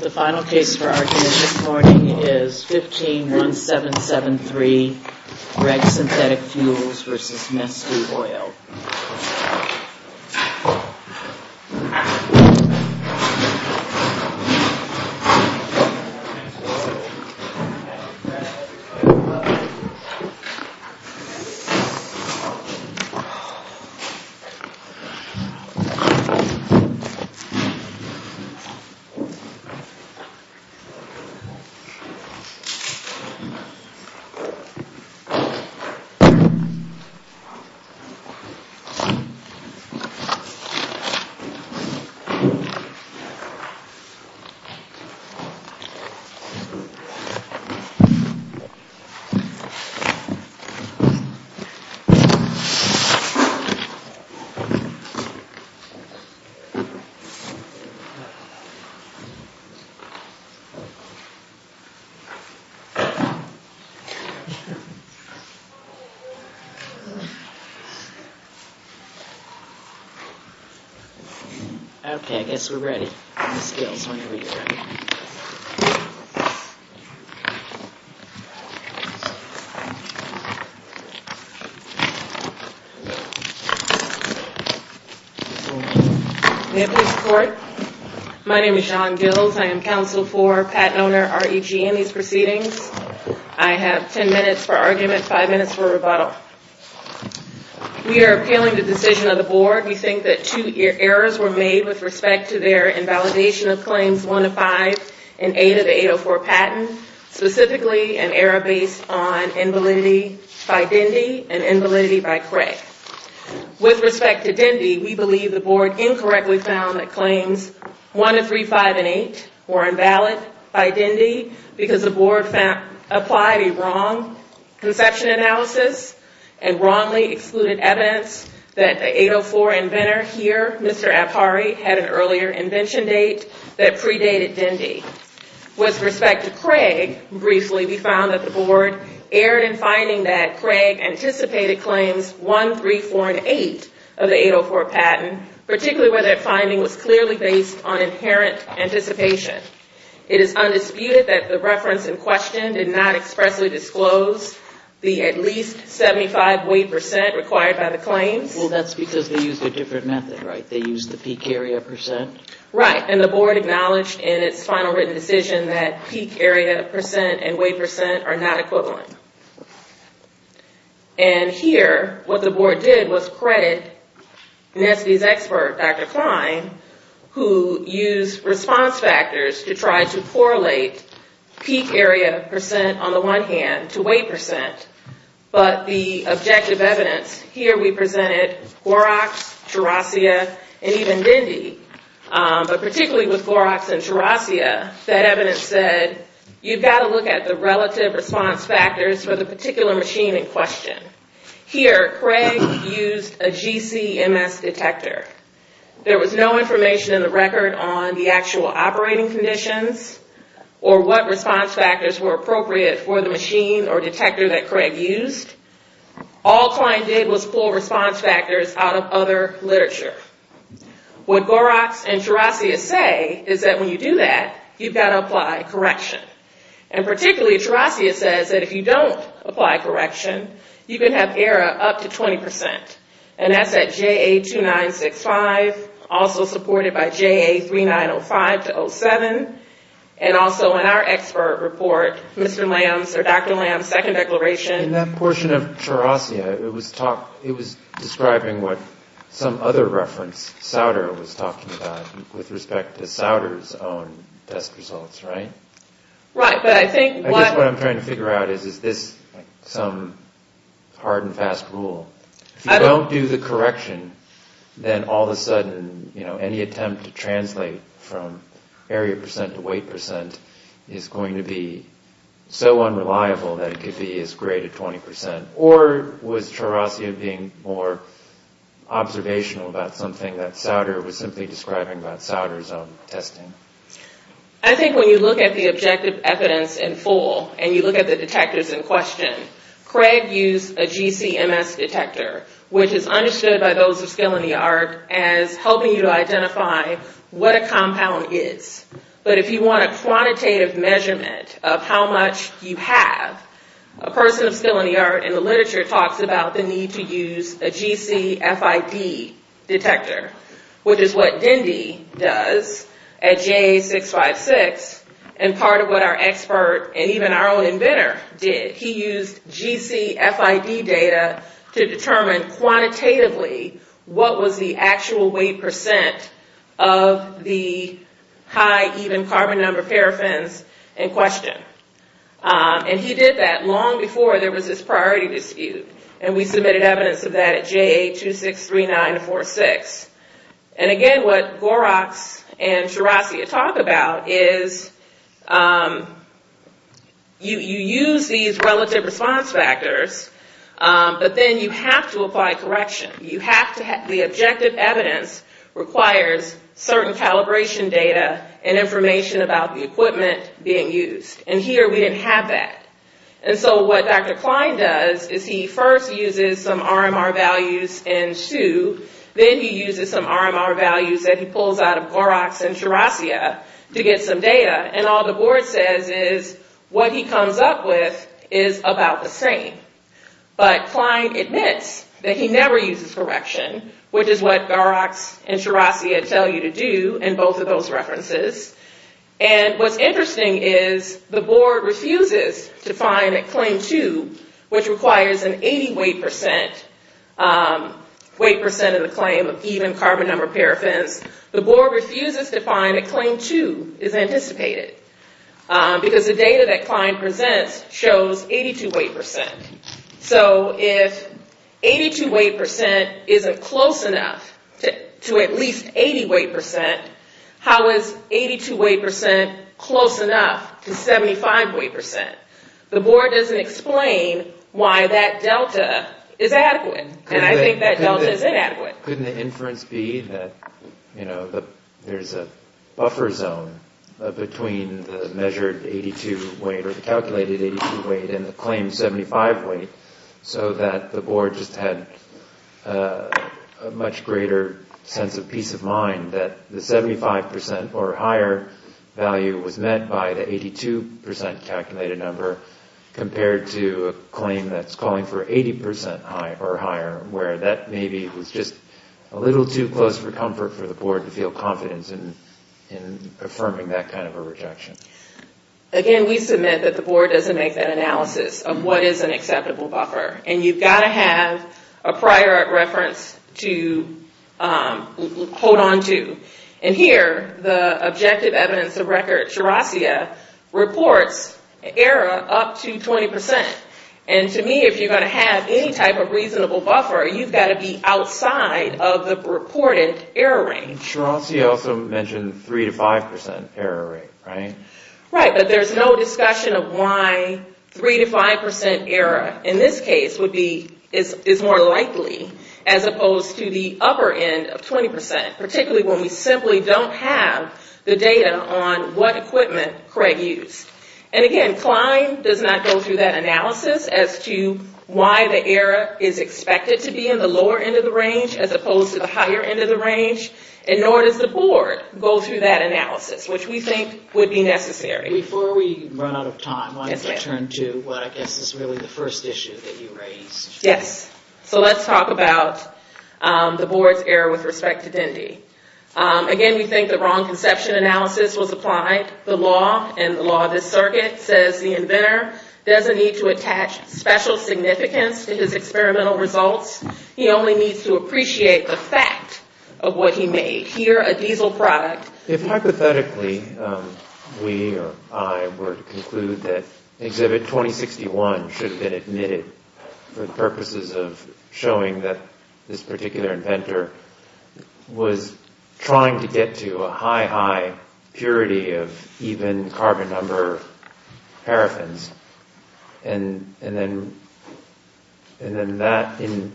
The final case for argument this morning is 15-1773 REG Synthetic Fuels v. Neste Oil. Let's check it out. Okay, I guess we're ready. My name is John Gills. I am counsel for patent owner REG in these proceedings. I have ten minutes for argument, five minutes for rebuttal. We are appealing the decision of the board. We think that two errors were made with respect to their invalidation of Claims 1 of 5 and 8 of the 804 patent, specifically an error based on invalidity by Dendy and invalidity by Craig. With respect to Dendy, we believe the board incorrectly found that Claims 1 of 3, 5, and 8 were invalid by Dendy because the board applied a wrong conception analysis and wrongly excluded evidence that the 804 inventor here, Mr. Apari, had an earlier invention date that predated Dendy. With respect to Craig, briefly, we found that the board erred in finding that Craig anticipated Claims 1, 3, 4, and 8 of the 804 patent, particularly when that finding was clearly based on inherent anticipation. It is undisputed that the reference in question did not expressly disclose the at least 75 weight percent required by the claims. Well, that's because they used a different method, right? They used the peak area percent? Right, and the board acknowledged in its final written decision that peak area percent and weight percent are not equivalent. And here, what the board did was credit NST's expert, Dr. Klein, who used response factors to try to correlate peak area percent, on the one hand, to weight percent. But the objective evidence, here we presented GOROX, TRASIA, and even Dendy, but particularly with GOROX and TRASIA, that evidence said, you've got to look at the relative response factors for the particular machine in question. Here, Craig used a GCMS detector. There was no information in the record on the actual operating conditions, or what response factors were appropriate for the machine or detector that Craig used. All Klein did was pull response factors out of other literature. What GOROX and TRASIA say is that when you do that, you've got to apply correction. And particularly, TRASIA says that if you don't apply correction, you can have error up to 20%. And that's at JA2965, also supported by JA3905-07, and also in our expert report, Mr. Lamb's, or Dr. Lamb's second declaration. In that portion of TRASIA, it was describing what some other reference, SAUDER, was talking about, with respect to SAUDER's own test results, right? Right, but I think what... I guess what I'm trying to figure out is, is this some hard and fast rule? If you don't do the correction, then all of a sudden, you know, any attempt to translate from area percent to weight percent is going to be so unreliable that it could be as great at 20%. Or was TRASIA being more observational about something that SAUDER was simply describing about SAUDER's own testing? I think when you look at the objective evidence in full, and you look at the detectors in question, Craig used a GC-MS detector, which is understood by those of skill in the art as helping you identify what a compound is. But if you want a quantitative measurement of how much you have, a person of skill in the art in the literature talks about the need to use a GCFID detector, which is what Dindy does at JA656, and part of what our expert, and even our own inventor, did. He used GCFID data to determine quantitatively what was the actual weight percent of the high even carbon number paraffins in question. And he did that long before there was this priority dispute, and we submitted evidence of that at JA263946. And again, what GOROX and TRASIA talk about is you use these relative response factors, but then you have to apply correction. The objective evidence requires certain calibration data and information about the equipment being used, and here we didn't have that. And so what Dr. Klein does is he first uses some RMR values in Sioux, then he uses some RMR values that he pulls out of GOROX and TRASIA to get some data, and all the board says is what he comes up with is about the same. But Klein admits that he never uses correction, which is what GOROX and TRASIA tell you to do in both of those references. And what's interesting is the board refuses to find that Claim 2, which requires an 80 weight percent in the claim of even carbon number paraffins, the board refuses to find that Claim 2 is anticipated, because the data that Klein presents shows 82 weight percent. So if 82 weight percent isn't close enough to at least 80 weight percent, how is 82 weight percent close enough to 75 weight percent? The board doesn't explain why that delta is adequate, and I think that delta is inadequate. Couldn't the inference be that there's a buffer zone between the measured 82 weight or the calculated 82 weight and the claimed 75 weight, so that the board just had a much greater sense of peace of mind that the 75 percent or higher value was met by the 82 percent calculated number compared to a claim that's calling for 80 percent or higher, where that maybe was just a little too close for comfort for the board to feel confidence in affirming that kind of a rejection? Again, we submit that the board doesn't make that analysis of what is an acceptable buffer, and you've got to have a prior reference to hold on to. And here, the objective evidence of record, Shirasia, reports error up to 20 percent. And to me, if you're going to have any type of reasonable buffer, you've got to be outside of the reported error range. Shirasia also mentioned 3 to 5 percent error rate, right? Right, but there's no discussion of why 3 to 5 percent error in this case is more likely, as opposed to the upper end of 20 percent, particularly when we simply don't have the data on what equipment Craig used. And again, Klein does not go through that analysis as to why the error is expected to be in the lower end of the range, as opposed to the higher end of the range, and nor does the board go through that analysis, which we think would be necessary. Before we run out of time, I want to turn to what I guess is really the first issue that you raised. Yes, so let's talk about the board's error with respect to Dendy. Again, we think the wrong conception analysis was applied. The law, and the law of this circuit, says the inventor doesn't need to attach special significance to his experimental results. He only needs to appreciate the fact of what he made. If hypothetically, we or I were to conclude that Exhibit 2061 should have been admitted for the purposes of showing that this particular inventor was trying to get to a high, high purity of even carbon number paraffins, and then that, in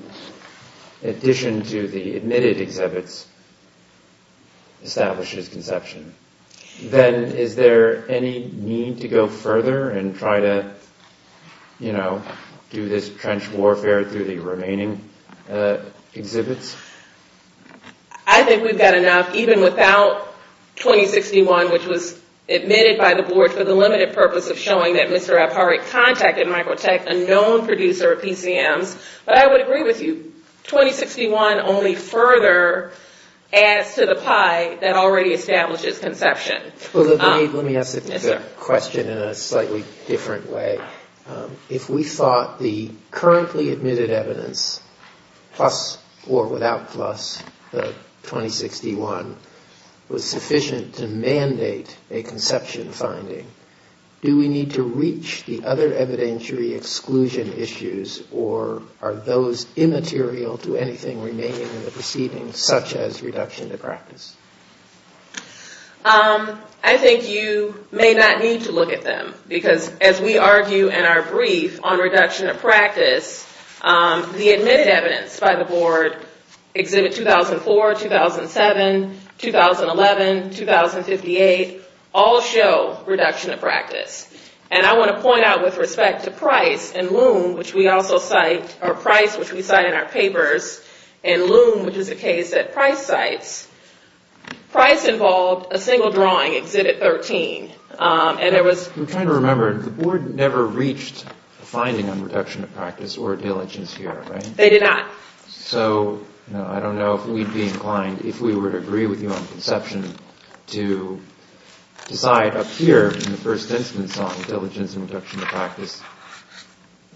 addition to the admitted exhibits, establishes conception, then is there any need to go further and try to do this trench warfare through the remaining exhibits? I think we've got enough, even without 2061, which was admitted by the board for the limited purpose of showing that Mr. Ephardt contacted Microtech, a known producer of PCMs, but I would agree with you. 2061 only further adds to the pie that already establishes conception. Let me ask the question in a slightly different way. If we thought the currently admitted evidence, plus or without plus the 2061, was sufficient to mandate a conception finding, do we need to reach the other evidentiary exclusion issues, or are those immaterial to anything remaining in the proceedings, such as reduction of practice? I think you may not need to look at them, because as we argue in our brief on reduction of practice, the admitted evidence by the board, exhibit 2004, 2007, 2011, 2058, all show reduction of practice. And I want to point out with respect to Price and Loom, which we also cite, or Price, which we cite in our papers, and Loom, which is a case that Price cites, Price involved a single drawing, exhibit 13. I'm trying to remember, the board never reached a finding on reduction of practice or diligence here, right? They did not. So I don't know if we'd be inclined, if we were to agree with you on conception, to decide up here in the first instance on diligence and reduction of practice,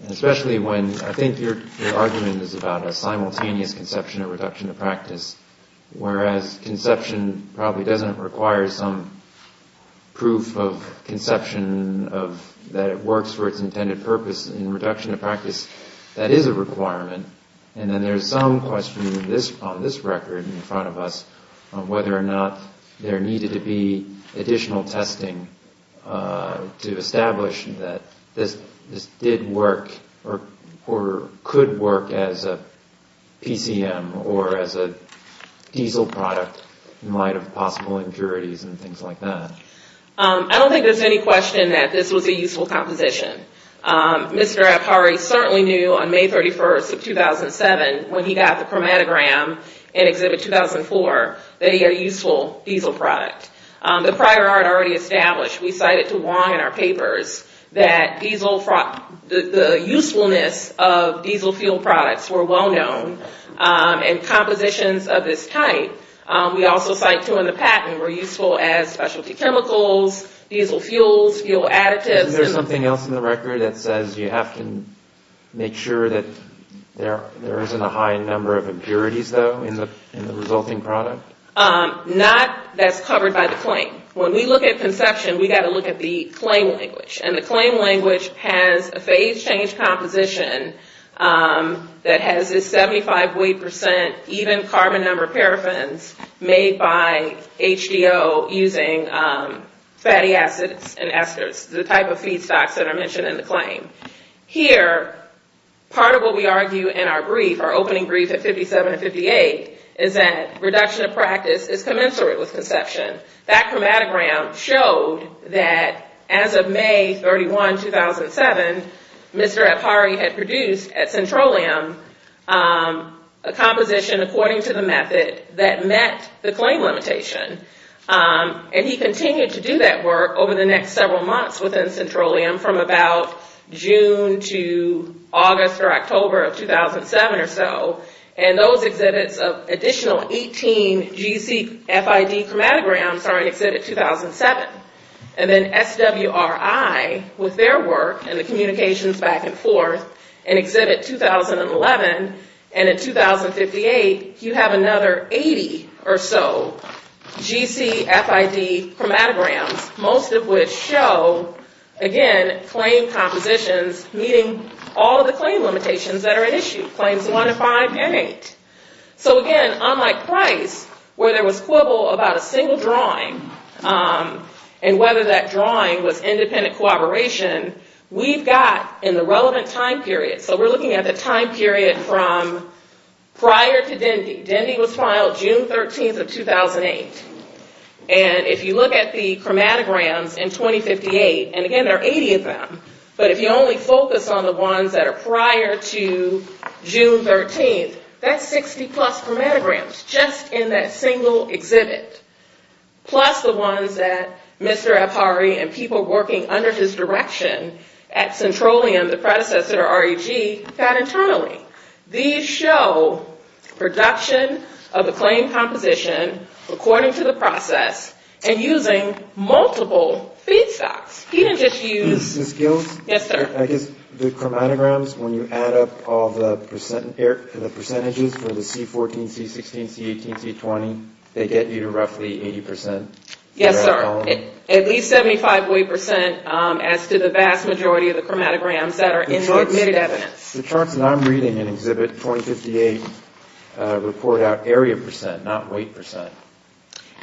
especially when I think your argument is about a simultaneous conception of reduction of practice, whereas conception probably doesn't require some proof of conception that it works for its intended purpose. In reduction of practice, that is a requirement. And then there's some question on this record in front of us on whether or not there needed to be additional testing to establish that this did work or could work as a PCM or as a diesel product in light of possible impurities and things like that. I don't think there's any question that this was a useful composition. Mr. Apari certainly knew on May 31st of 2007, when he got the chromatogram in exhibit 2004, that he had a useful diesel product. The prior art already established, we cited to Wong in our papers, that the usefulness of diesel fuel products were well-known. And compositions of this type, we also cite too in the patent, were useful as specialty chemicals, diesel fuels, fuel additives. Is there something else in the record that says you have to make sure that there isn't a high number of impurities, though, in the resulting product? Not that's covered by the claim. When we look at conception, we've got to look at the claim language. And the claim language has a phase change composition that has this 75 weight percent even carbon number paraffins made by HDO using fatty acids and esters, the type of feedstocks that are mentioned in the claim. Here, part of what we argue in our brief, our opening brief at 57 and 58, is that reduction of practice is commensurate with conception. That chromatogram showed that as of May 31, 2007, Mr. Apari had produced at Centralium a composition according to the method that met the claim limitation. And he continued to do that work over the next several months within Centralium from about June to August or October of 2007 or so. And those exhibits of additional 18 GCFID chromatograms are in exhibit 2007. And then SWRI with their work and the communications back and forth in exhibit 2011. And in 2058, you have another 80 or so GCFID chromatograms, most of which show, again, claim compositions meeting all of the claim limitations that are at issue, claims 1 to 5 and 8. So again, unlike Price, where there was quibble about a single drawing and whether that drawing was independent cooperation, we've got in the relevant time period, so we're looking at the time period from prior to Dendy. Dendy was filed June 13, 2008. And if you look at the chromatograms in 2058, and again, there are 80 of them, but if you only focus on the ones that are prior to June 13, that's 60-plus chromatograms just in that single exhibit, plus the ones that Mr. Apari and people working under his direction at Centralium, the predecessor to REG, got internally. These show production of the claim composition according to the process and using multiple feedstocks. He didn't just use... The skills? Yes, sir. I guess the chromatograms, when you add up all the percentages for the C14, C16, C18, C20, they get you to roughly 80%? Yes, sir. At least 75% as to the vast majority of the chromatograms that are in the admitted evidence. The charts that I'm reading in Exhibit 2058 report out area percent, not weight percent.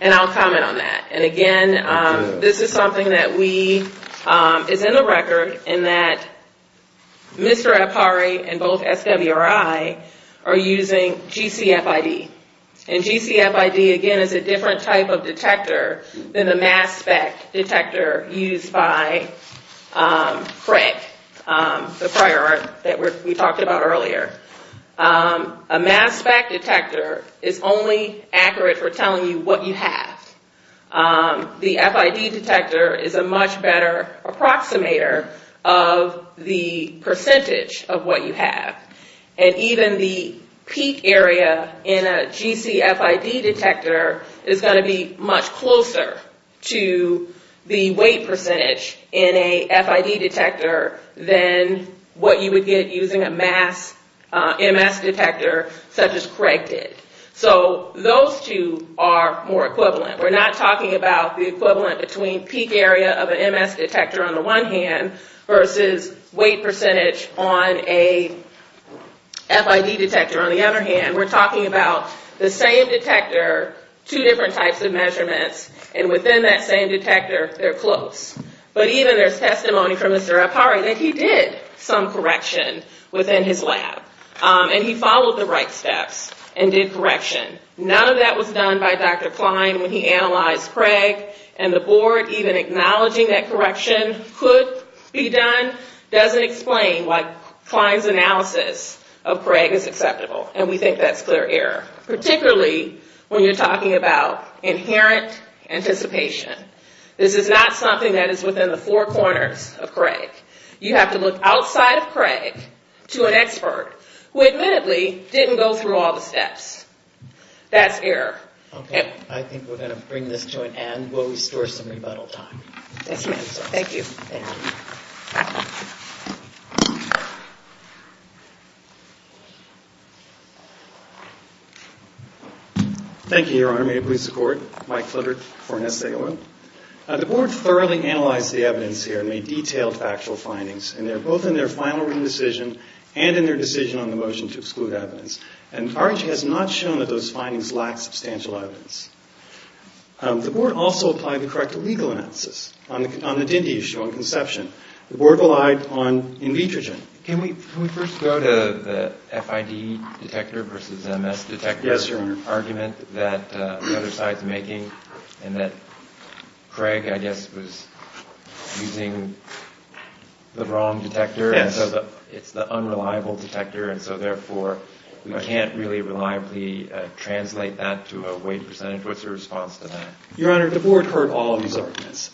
And I'll comment on that. And again, this is something that is in the record in that Mr. Apari and both SWRI are using GCFID. And GCFID, again, is a different type of detector than the mass spec detector used by PREC, the prior art that we talked about earlier. A mass spec detector is only accurate for telling you what you have. The FID detector is a much better approximator of the percentage of what you have. And even the peak area in a GCFID detector is going to be much closer to the weight percentage in a FID detector than what you would get using a mass MS detector such as PREC did. So those two are more equivalent. We're not talking about the equivalent between peak area of an MS detector on the one hand versus weight percentage on a FID detector on the other hand. We're talking about the same detector, two different types of measurements, and within that same detector, they're close. But even there's testimony from Mr. Apari that he did some correction within his lab. And he followed the right steps and did correction. None of that was done by Dr. Klein when he analyzed PREC. And the board even acknowledging that correction could be done doesn't explain why Klein's analysis of PREC is acceptable. And we think that's clear error, particularly when you're talking about inherent anticipation. This is not something that is within the four corners of PREC. You have to look outside of PREC to an expert who admittedly didn't go through all the steps. That's error. Okay. I think we're going to bring this to an end while we store some rebuttal time. Yes, ma'am. Thank you. Thank you. Thank you, Your Honor. May it please the Court. Mike Flitter for NSAO. The board thoroughly analyzed the evidence here and made detailed factual findings. And they're both in their final written decision and in their decision on the motion to exclude evidence. And RIT has not shown that those findings lack substantial evidence. The board also applied the correct legal analysis on the DINDI issue on conception. The board relied on in vitrogen. Can we first go to the FID detector versus MS detector? Yes, Your Honor. There's an argument that the other side is making and that Craig, I guess, was using the wrong detector. Yes. And so it's the unreliable detector. And so, therefore, we can't really reliably translate that to a weight percentage. What's your response to that? Your Honor, the board heard all of these arguments.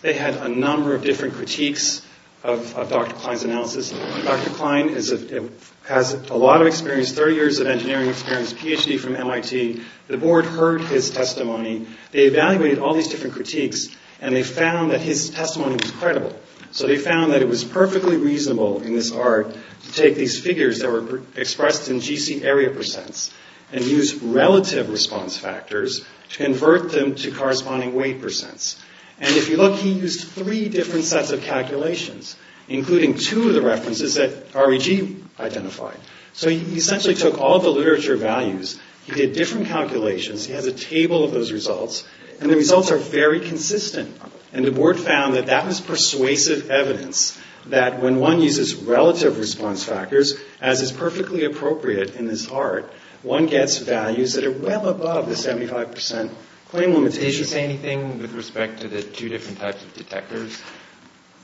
Dr. Klein has a lot of experience, 30 years of engineering experience, PhD from MIT. The board heard his testimony. They evaluated all these different critiques, and they found that his testimony was credible. So they found that it was perfectly reasonable in this art to take these figures that were expressed in GC area percents and use relative response factors to convert them to corresponding weight percents. And if you look, he used three different sets of calculations, including two of the references that REG identified. So he essentially took all the literature values. He did different calculations. He has a table of those results. And the results are very consistent. And the board found that that was persuasive evidence that when one uses relative response factors, as is perfectly appropriate in this art, one gets values that are well above the 75 percent claim limitations. Did he say anything with respect to the two different types of detectors?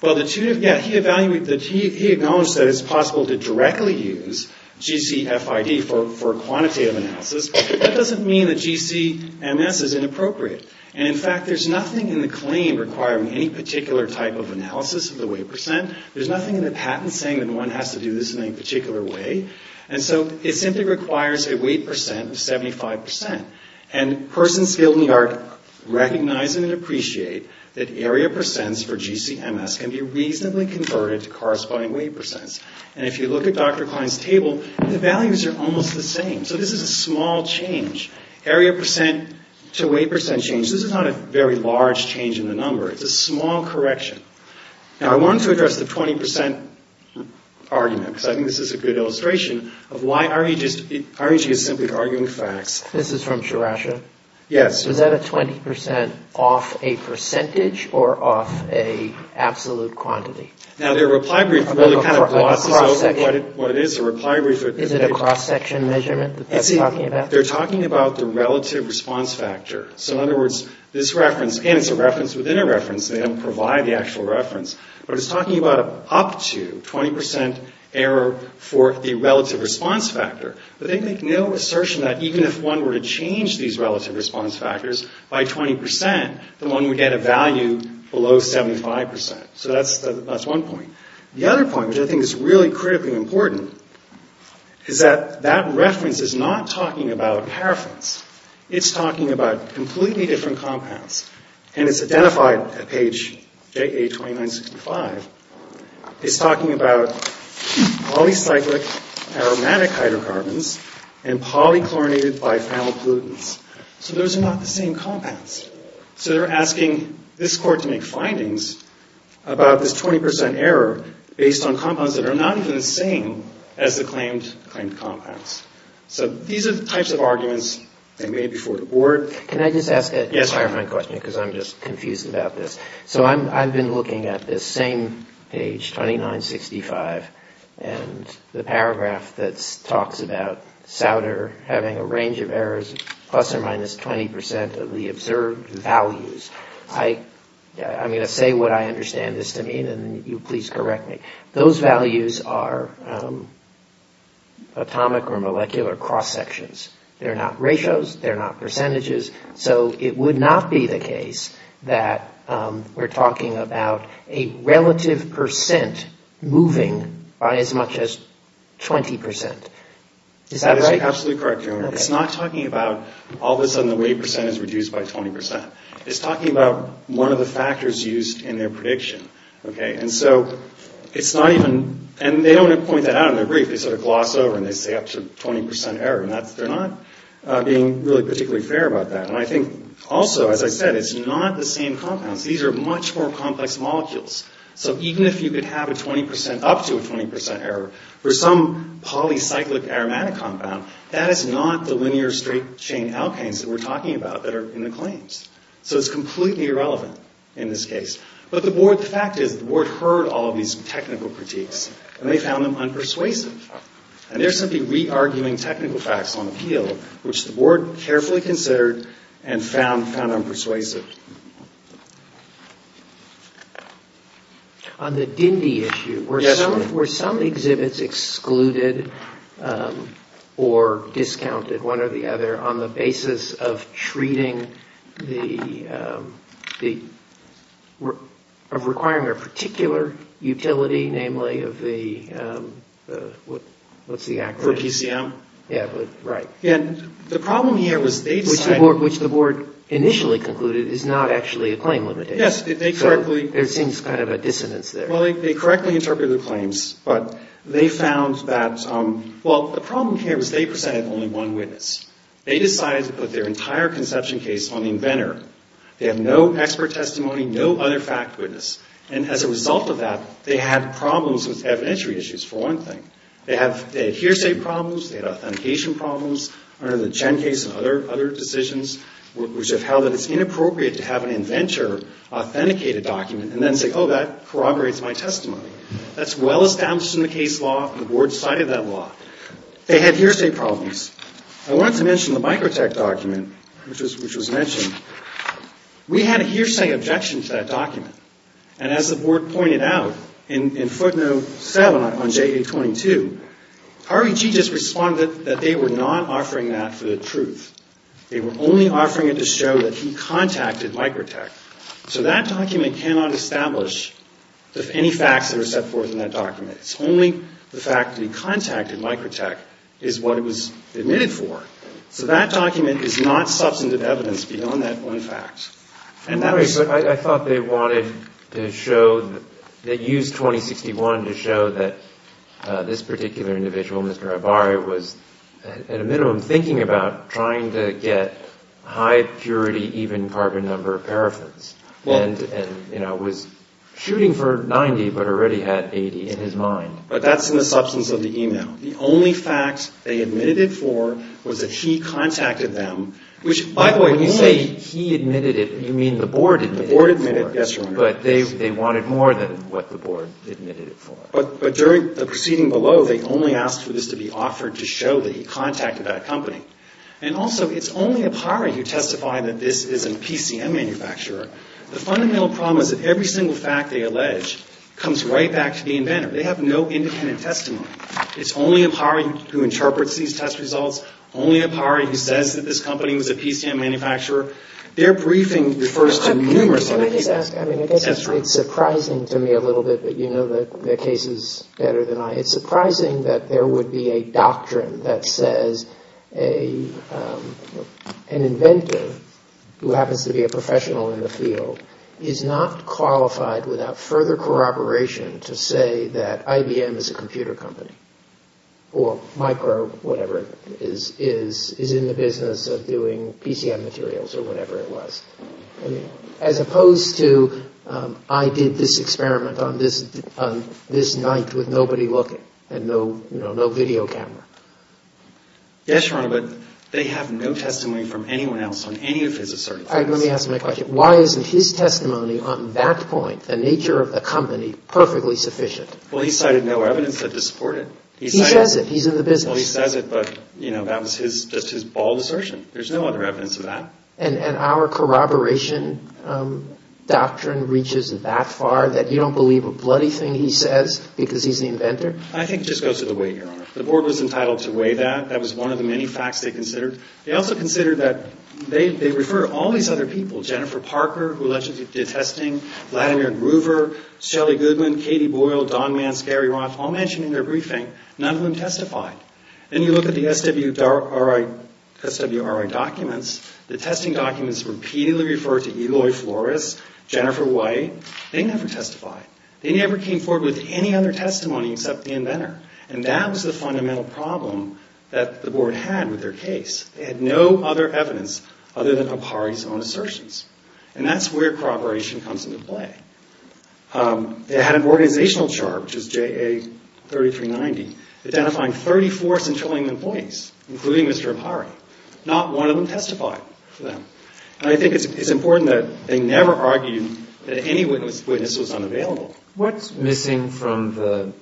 Well, he acknowledged that it's possible to directly use GCFID for quantitative analysis. That doesn't mean that GCMS is inappropriate. And, in fact, there's nothing in the claim requiring any particular type of analysis of the weight percent. There's nothing in the patent saying that one has to do this in any particular way. And so it simply requires a weight percent of 75 percent. And persons skilled in the art recognize and appreciate that area percents for GCMS can be reasonably converted to corresponding weight percents. And if you look at Dr. Klein's table, the values are almost the same. So this is a small change. Area percent to weight percent change. This is not a very large change in the number. It's a small correction. Now, I wanted to address the 20 percent argument, because I think this is a good illustration of why REG is simply arguing facts. This is from Sriracha? Yes. Is that a 20 percent off a percentage or off a absolute quantity? Now, their reply brief really kind of glosses over what it is. A reply brief is a big cross-section measurement that they're talking about? They're talking about the relative response factor. So, in other words, this reference, and it's a reference within a reference, they don't provide the actual reference, but it's talking about an up to 20 percent error for the relative response factor. But they make no assertion that even if one were to change these relative response factors by 20 percent, that one would get a value below 75 percent. So that's one point. The other point, which I think is really critically important, is that that reference is not talking about paraffins. It's talking about completely different compounds. And it's identified at page JA-2965. It's talking about polycyclic aromatic hydrocarbons and polychlorinated biphenyl pollutants. So those are not the same compounds. So they're asking this Court to make findings about this 20 percent error based on compounds that are not even the same as the claimed compounds. So these are the types of arguments they made before the Board. Can I just ask a clarifying question? Because I'm just confused about this. So I've been looking at this same page, 2965, and the paragraph that talks about SAUDER having a range of errors, plus or minus 20 percent of the observed values. I'm going to say what I understand this to mean, and you please correct me. Those values are atomic or molecular cross-sections. They're not ratios. They're not percentages. So it would not be the case that we're talking about a relative percent moving by as much as 20 percent. Is that right? That is absolutely correct, Your Honor. It's not talking about all of a sudden the weight percent is reduced by 20 percent. It's talking about one of the factors used in their prediction, okay? And they don't point that out in their brief. They sort of gloss over and they say up to 20 percent error. They're not being really particularly fair about that. And I think also, as I said, it's not the same compounds. These are much more complex molecules. So even if you could have up to a 20 percent error for some polycyclic aromatic compound, that is not the linear straight chain alkanes that we're talking about that are in the claims. So it's completely irrelevant in this case. But the fact is the board heard all of these technical critiques and they found them unpersuasive. And they're simply re-arguing technical facts on appeal, which the board carefully considered and found unpersuasive. On the Dindy issue, were some exhibits excluded or discounted, one or the other, on the basis of requiring a particular utility, namely of the, what's the acronym? For PCM. Yeah, right. And the problem here was they decided... is not actually a claim limitation. Yes, they correctly... So there seems kind of a dissonance there. Well, they correctly interpreted the claims. But they found that, well, the problem here was they presented only one witness. They decided to put their entire conception case on the inventor. They have no expert testimony, no other fact witness. And as a result of that, they had problems with evidentiary issues, for one thing. They had hearsay problems. They had authentication problems under the Chen case and other decisions, which have held that it's inappropriate to have an inventor authenticate a document and then say, oh, that corroborates my testimony. That's well established in the case law and the board cited that law. They had hearsay problems. I wanted to mention the Microtech document, which was mentioned. We had a hearsay objection to that document. And as the board pointed out, in footnote 7 on J822, Harvey G. just responded that they were not offering that for the truth. They were only offering it to show that he contacted Microtech. So that document cannot establish any facts that are set forth in that document. It's only the fact that he contacted Microtech is what it was admitted for. So that document is not substantive evidence beyond that one fact. I thought they wanted to show, they used 2061 to show that this particular individual, Mr. Ibarria, was at a minimum thinking about trying to get high purity even carbon number of paraffins. And, you know, was shooting for 90 but already had 80 in his mind. But that's in the substance of the email. The only fact they admitted it for was that he contacted them, which, by the way, when you say he admitted it, you mean the board admitted it. The board admitted it, yes, Your Honor. But they wanted more than what the board admitted it for. But during the proceeding below, they only asked for this to be offered to show that he contacted that company. And also, it's only Ibarria who testified that this is a PCM manufacturer. The fundamental problem is that every single fact they allege comes right back to the inventor. They have no independent testimony. It's only Ibarria who interprets these test results, only Ibarria who says that this company was a PCM manufacturer. Their briefing refers to numerous other cases. Can I just ask, I mean, I guess it's surprising to me a little bit, but you know the cases better than I. It's surprising that there would be a doctrine that says an inventor who happens to be a professional in the field is not qualified without further corroboration to say that IBM is a computer company or micro whatever it is, is in the business of doing PCM materials or whatever it was. As opposed to I did this experiment on this night with nobody looking and no video camera. Yes, Your Honor, but they have no testimony from anyone else on any of his assertions. All right, let me ask my question. Why isn't his testimony on that point, the nature of the company, perfectly sufficient? Well, he cited no evidence to support it. He says it. He's in the business. He says it, but that was just his bald assertion. There's no other evidence of that. And our corroboration doctrine reaches that far that you don't believe a bloody thing he says because he's the inventor? I think it just goes to the weight, Your Honor. The board was entitled to weigh that. That was one of the many facts they considered. They also considered that they refer to all these other people, Jennifer Parker, who allegedly did testing, Vladimir Groover, Shelley Goodman, Katie Boyle, Don Manns, Gary Roth, all mentioned in their briefing. None of them testified. And you look at the SWRI documents, the testing documents repeatedly refer to Eloy Flores, Jennifer White. They never testified. They never came forward with any other testimony except the inventor. And that was the fundamental problem that the board had with their case. They had no other evidence other than Apari's own assertions. And that's where corroboration comes into play. They had an organizational chart, which is JA 3390, identifying 34 Centurion employees, including Mr. Apari. Not one of them testified for them. And I think it's important that they never argued that any witness was unavailable. What's missing from the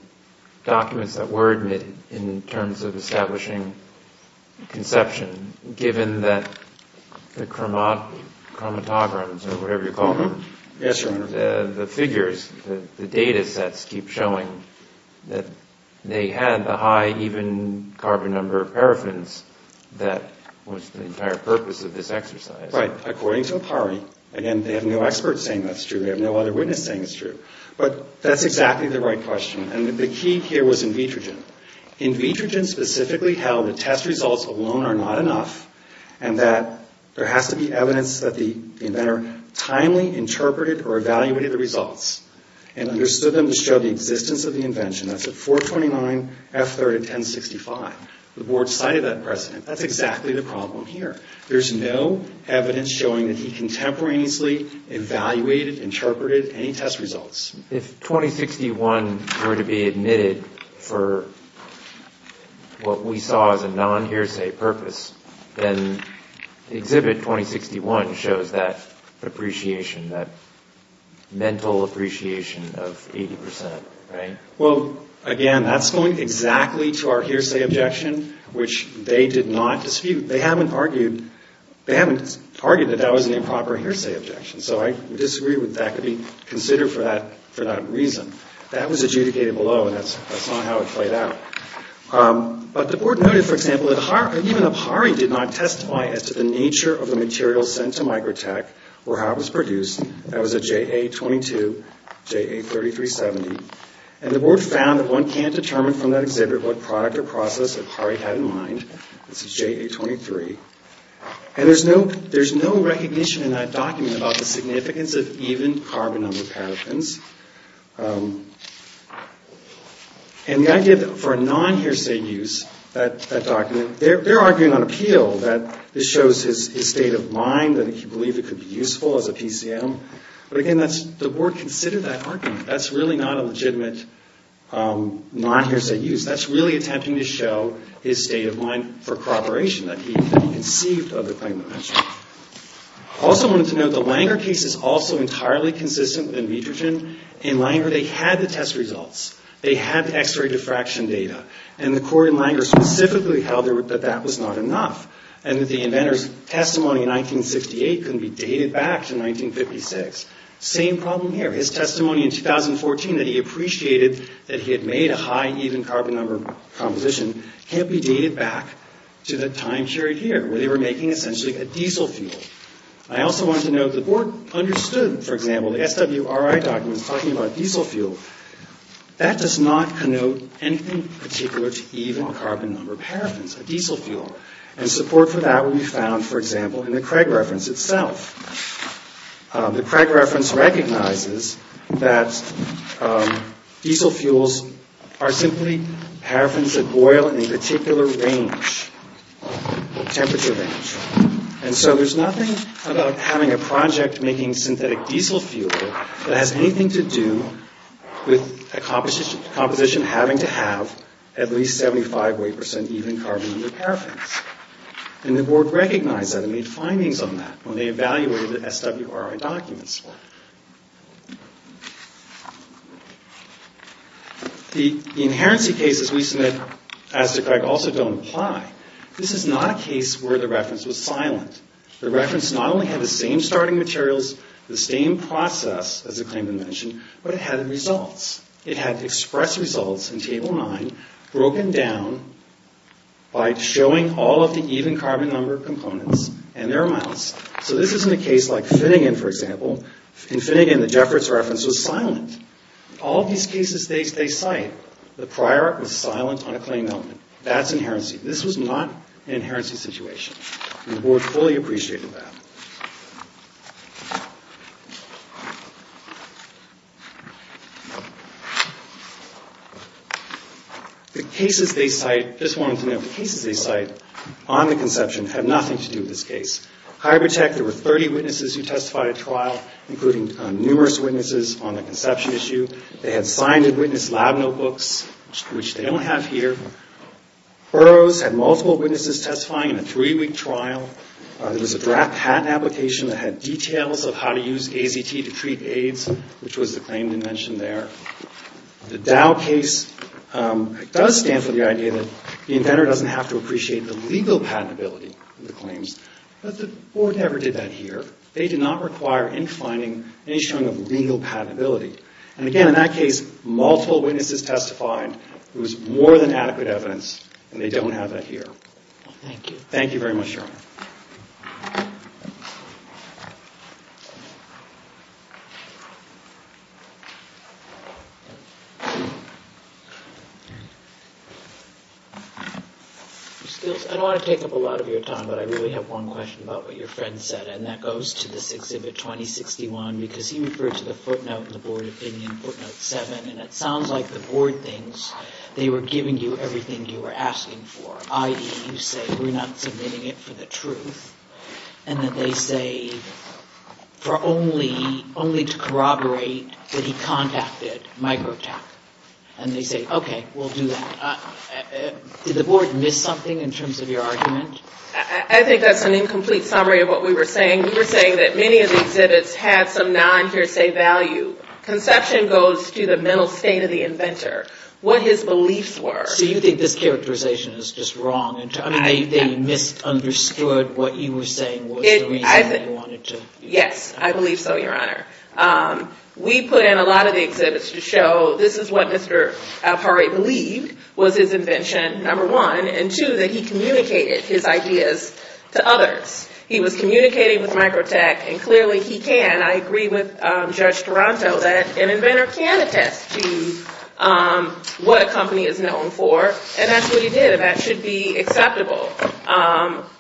documents that were admitted in terms of establishing conception, given that the chromatograms or whatever you call them? Yes, Your Honor. The figures, the data sets keep showing that they had the high even carbon number of paraffins that was the entire purpose of this exercise. Right. According to Apari. Again, they have no expert saying that's true. And we have no other witness saying it's true. But that's exactly the right question. And the key here was Invitrogen. Invitrogen specifically held that test results alone are not enough and that there has to be evidence that the inventor timely interpreted or evaluated the results and understood them to show the existence of the invention. That's at 429 F3rd and 1065. The board cited that precedent. That's exactly the problem here. There's no evidence showing that he contemporaneously evaluated, interpreted any test results. If 2061 were to be admitted for what we saw as a non-hearsay purpose, then Exhibit 2061 shows that appreciation, that mental appreciation of 80 percent, right? Well, again, that's going exactly to our hearsay objection, which they did not dispute. They haven't argued that that was an improper hearsay objection. So I disagree with that could be considered for that reason. That was adjudicated below, and that's not how it played out. But the board noted, for example, that even Apari did not testify as to the nature of the material sent to Microtech or how it was produced. That was a JA22, JA3370. And the board found that one can't determine from that exhibit what product or process Apari had in mind. This is JA23. And there's no recognition in that document about the significance of even carbon on the pathogens. And the idea that for a non-hearsay use, that document, they're arguing on appeal that this shows his state of mind, that he believed it could be useful as a PCM. But again, the board considered that argument. That's really not a legitimate non-hearsay use. That's really attempting to show his state of mind for corroboration, that he conceived of the claim that I mentioned. I also wanted to note the Langer case is also entirely consistent with Invitrogen. In Langer, they had the test results. They had X-ray diffraction data. And the court in Langer specifically held that that was not enough and that the inventor's testimony in 1968 couldn't be dated back to 1956. Same problem here. His testimony in 2014 that he appreciated that he had made a high even carbon number composition can't be dated back to the time period here where they were making essentially a diesel fuel. I also wanted to note the board understood, for example, the SWRI documents talking about diesel fuel. That does not connote anything particular to even carbon number paraffins, a diesel fuel. And support for that will be found, for example, in the Craig reference itself. The Craig reference recognizes that diesel fuels are simply paraffins that boil in a particular range, temperature range. And so there's nothing about having a project making synthetic diesel fuel that has anything to do with a composition having to have at least 75 weight percent even carbon number paraffins. And the board recognized that and made findings on that. When they evaluated the SWRI documents. The inherency cases we submit as to Craig also don't apply. This is not a case where the reference was silent. The reference not only had the same starting materials, the same process as the claimant mentioned, but it had results. It had express results in Table 9 broken down by showing all of the even carbon number components and their amounts. So this isn't a case like Finnegan, for example. In Finnegan, the Jefferts reference was silent. All of these cases they cite, the prior was silent on a claim element. That's inherency. This was not an inherency situation. And the board fully appreciated that. The cases they cite, just wanted to note, the cases they cite on the conception have nothing to do with this case. Hybrid Tech, there were 30 witnesses who testified at trial, including numerous witnesses on the conception issue. They had signed and witnessed lab notebooks, which they don't have here. Burroughs had multiple witnesses testifying in a three-week trial. There was a draft patent application that had details of how to use AZT to treat AIDS, which was the claim they mentioned there. The Dow case does stand for the idea that the inventor doesn't have to appreciate the legal patentability of the claims, but the board never did that here. They did not require any finding, any showing of legal patentability. And again, in that case, multiple witnesses testified. There was more than adequate evidence, and they don't have that here. Thank you very much, Your Honor. I don't want to take up a lot of your time, but I really have one question about what your friend said, and that goes to this Exhibit 2061, because he referred to the footnote in the board opinion, footnote 7, and it sounds like the board thinks they were giving you everything you were asking for, i.e., you say, we're not submitting it for the truth, and that they say, for only, only to corroborate that he contacted Microtap. And they say, okay, we'll do that. Did the board miss something in terms of your argument? I think that's an incomplete summary of what we were saying. We were saying that many of the exhibits had some non-hearsay value. Conception goes to the mental state of the inventor, what his beliefs were. So you think this characterization is just wrong? I mean, they misunderstood what you were saying was the reason they wanted to. Yes, I believe so, Your Honor. We put in a lot of the exhibits to show this is what Mr. Alpare believed was his invention, number one, and two, that he communicated his ideas to others. He was communicating with Microtap, and clearly he can. And I agree with Judge Toronto that an inventor can attest to what a company is known for, and that's what he did, and that should be acceptable.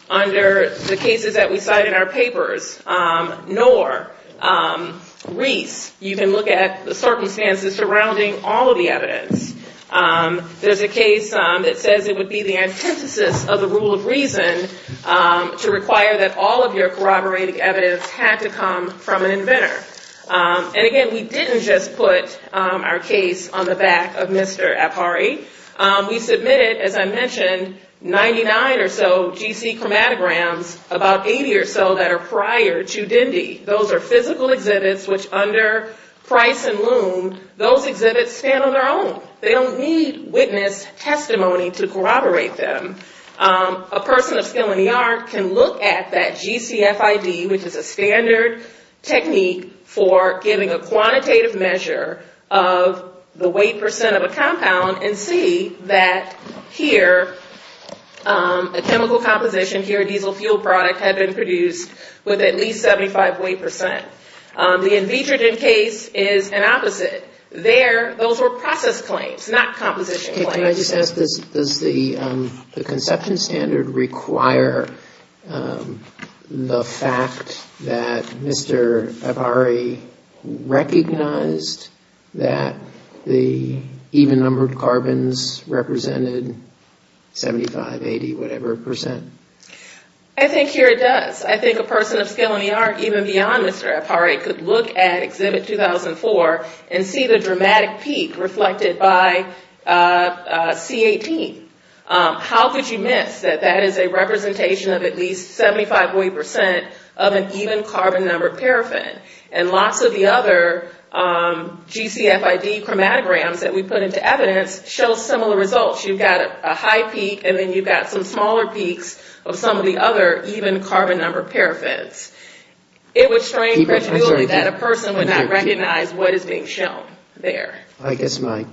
Under the cases that we cite in our papers, N.O.R., R.E.E.S., you can look at the circumstances surrounding all of the evidence. There's a case that says it would be the antithesis of the rule of reason to require that all of your corroborating evidence had to come from an inventor. And, again, we didn't just put our case on the back of Mr. Alpare. We submitted, as I mentioned, 99 or so GC chromatograms, about 80 or so that are prior to Dindy. Those are physical exhibits which under price and loom, those exhibits stand on their own. They don't need witness testimony to corroborate them. A person of skill in the art can look at that GCFID, which is a standard technique for giving a quantitative measure of the weight percent of a compound and see that here a chemical composition, here a diesel fuel product, had been produced with at least 75 weight percent. The Invitrogen case is an opposite. There, those were process claims, not composition claims. Can I just ask, does the conception standard require the fact that Mr. Alpare recognized that the even-numbered carbons represented 75, 80, whatever percent? I think here it does. I think a person of skill in the art, even beyond Mr. Alpare, could look at Exhibit 2004 and see the dramatic peak reflected by C18. How could you miss that that is a representation of at least 75 weight percent of an even carbon-numbered paraffin? And lots of the other GCFID chromatograms that we put into evidence show similar results. You've got a high peak and then you've got some smaller peaks of some of the other even carbon-numbered paraffins. It would strain credibility that a person would not recognize what is being shown there. I guess my,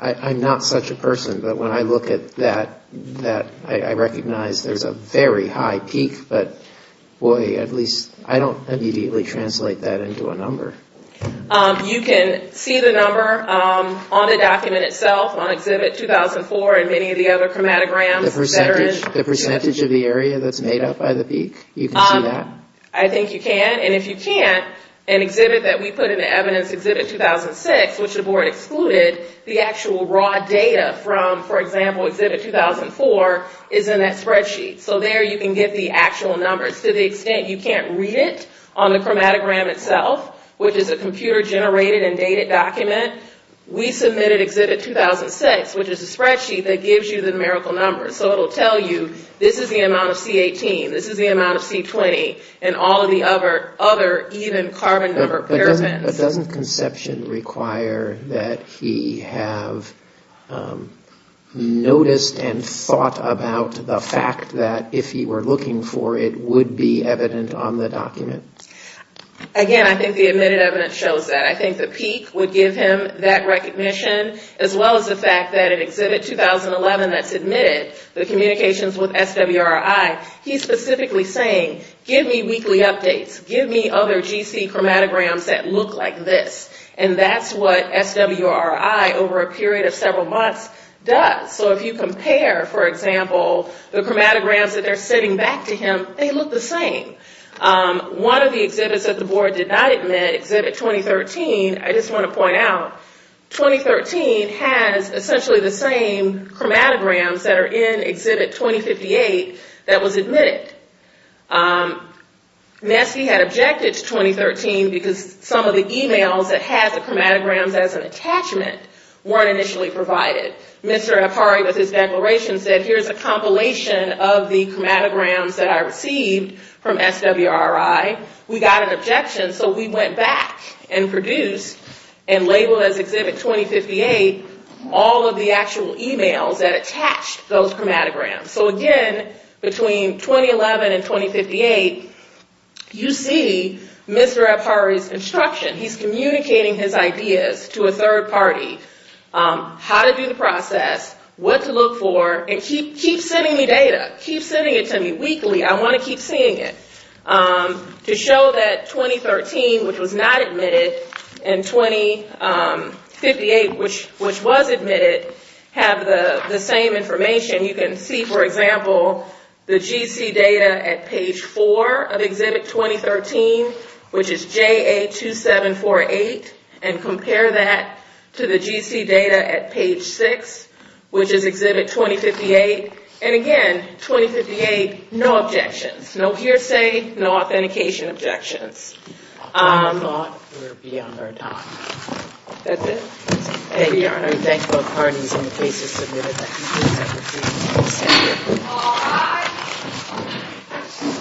I'm not such a person, but when I look at that, I recognize there's a very high peak, but boy, at least, I don't immediately translate that into a number. You can see the number on the document itself, on Exhibit 2004 and many of the other chromatograms. The percentage of the area that's made up by the peak, you can see that? I think you can, and if you can't, an exhibit that we put into evidence, Exhibit 2006, which the board excluded the actual raw data from, for example, Exhibit 2004, is in that spreadsheet. So there you can get the actual numbers. To the extent you can't read it on the chromatogram itself, which is a computer-generated and dated document, we submitted Exhibit 2006, which is a spreadsheet that gives you the numerical numbers. So it will tell you, this is the amount of C-18, this is the amount of C-20, and all of the other even carbon-numbered paraffins. But doesn't conception require that he have noticed and thought about the fact that, if he were looking for it, it would be evident on the document? Again, I think the admitted evidence shows that. I think the peak would give him that recognition, as well as the fact that in Exhibit 2011, that's admitted, the communications with SWRI, he's specifically saying, give me weekly updates, give me other GC chromatograms that look like this. And that's what SWRI, over a period of several months, does. So if you compare, for example, the chromatograms that are sitting back to him, they look the same. One of the exhibits that the board did not admit, Exhibit 2013, I just want to point out, 2013 has essentially the same chromatograms that are in Exhibit 2058 that was admitted. Nessie had objected to 2013 because some of the emails that had the chromatograms as an attachment weren't initially provided. Mr. Apari, with his declaration, said, here's a compilation of the chromatograms that I received from SWRI. We got an objection, so we went back and produced, and labeled as Exhibit 2058, all of the actual emails that attached those chromatograms. So again, between 2011 and 2058, you see Mr. Apari's instruction. He's communicating his ideas to a third party. How to do the process, what to look for, and keep sending me data. Keep sending it to me weekly. I want to keep seeing it. To show that 2013, which was not admitted, and 2058, which was admitted, have the same information. You can see, for example, the GC data at page 4 of Exhibit 2013, which is JA2748, and compare that to the GC data at page 6, which is Exhibit 2058. And again, 2058, no objections, no hearsay, no authentication objections. I thought we were beyond our time. That's it. Thank you, Your Honor. Thank both parties, and the case is submitted. Thank you, Mr. Secretary. Thank you. All rise.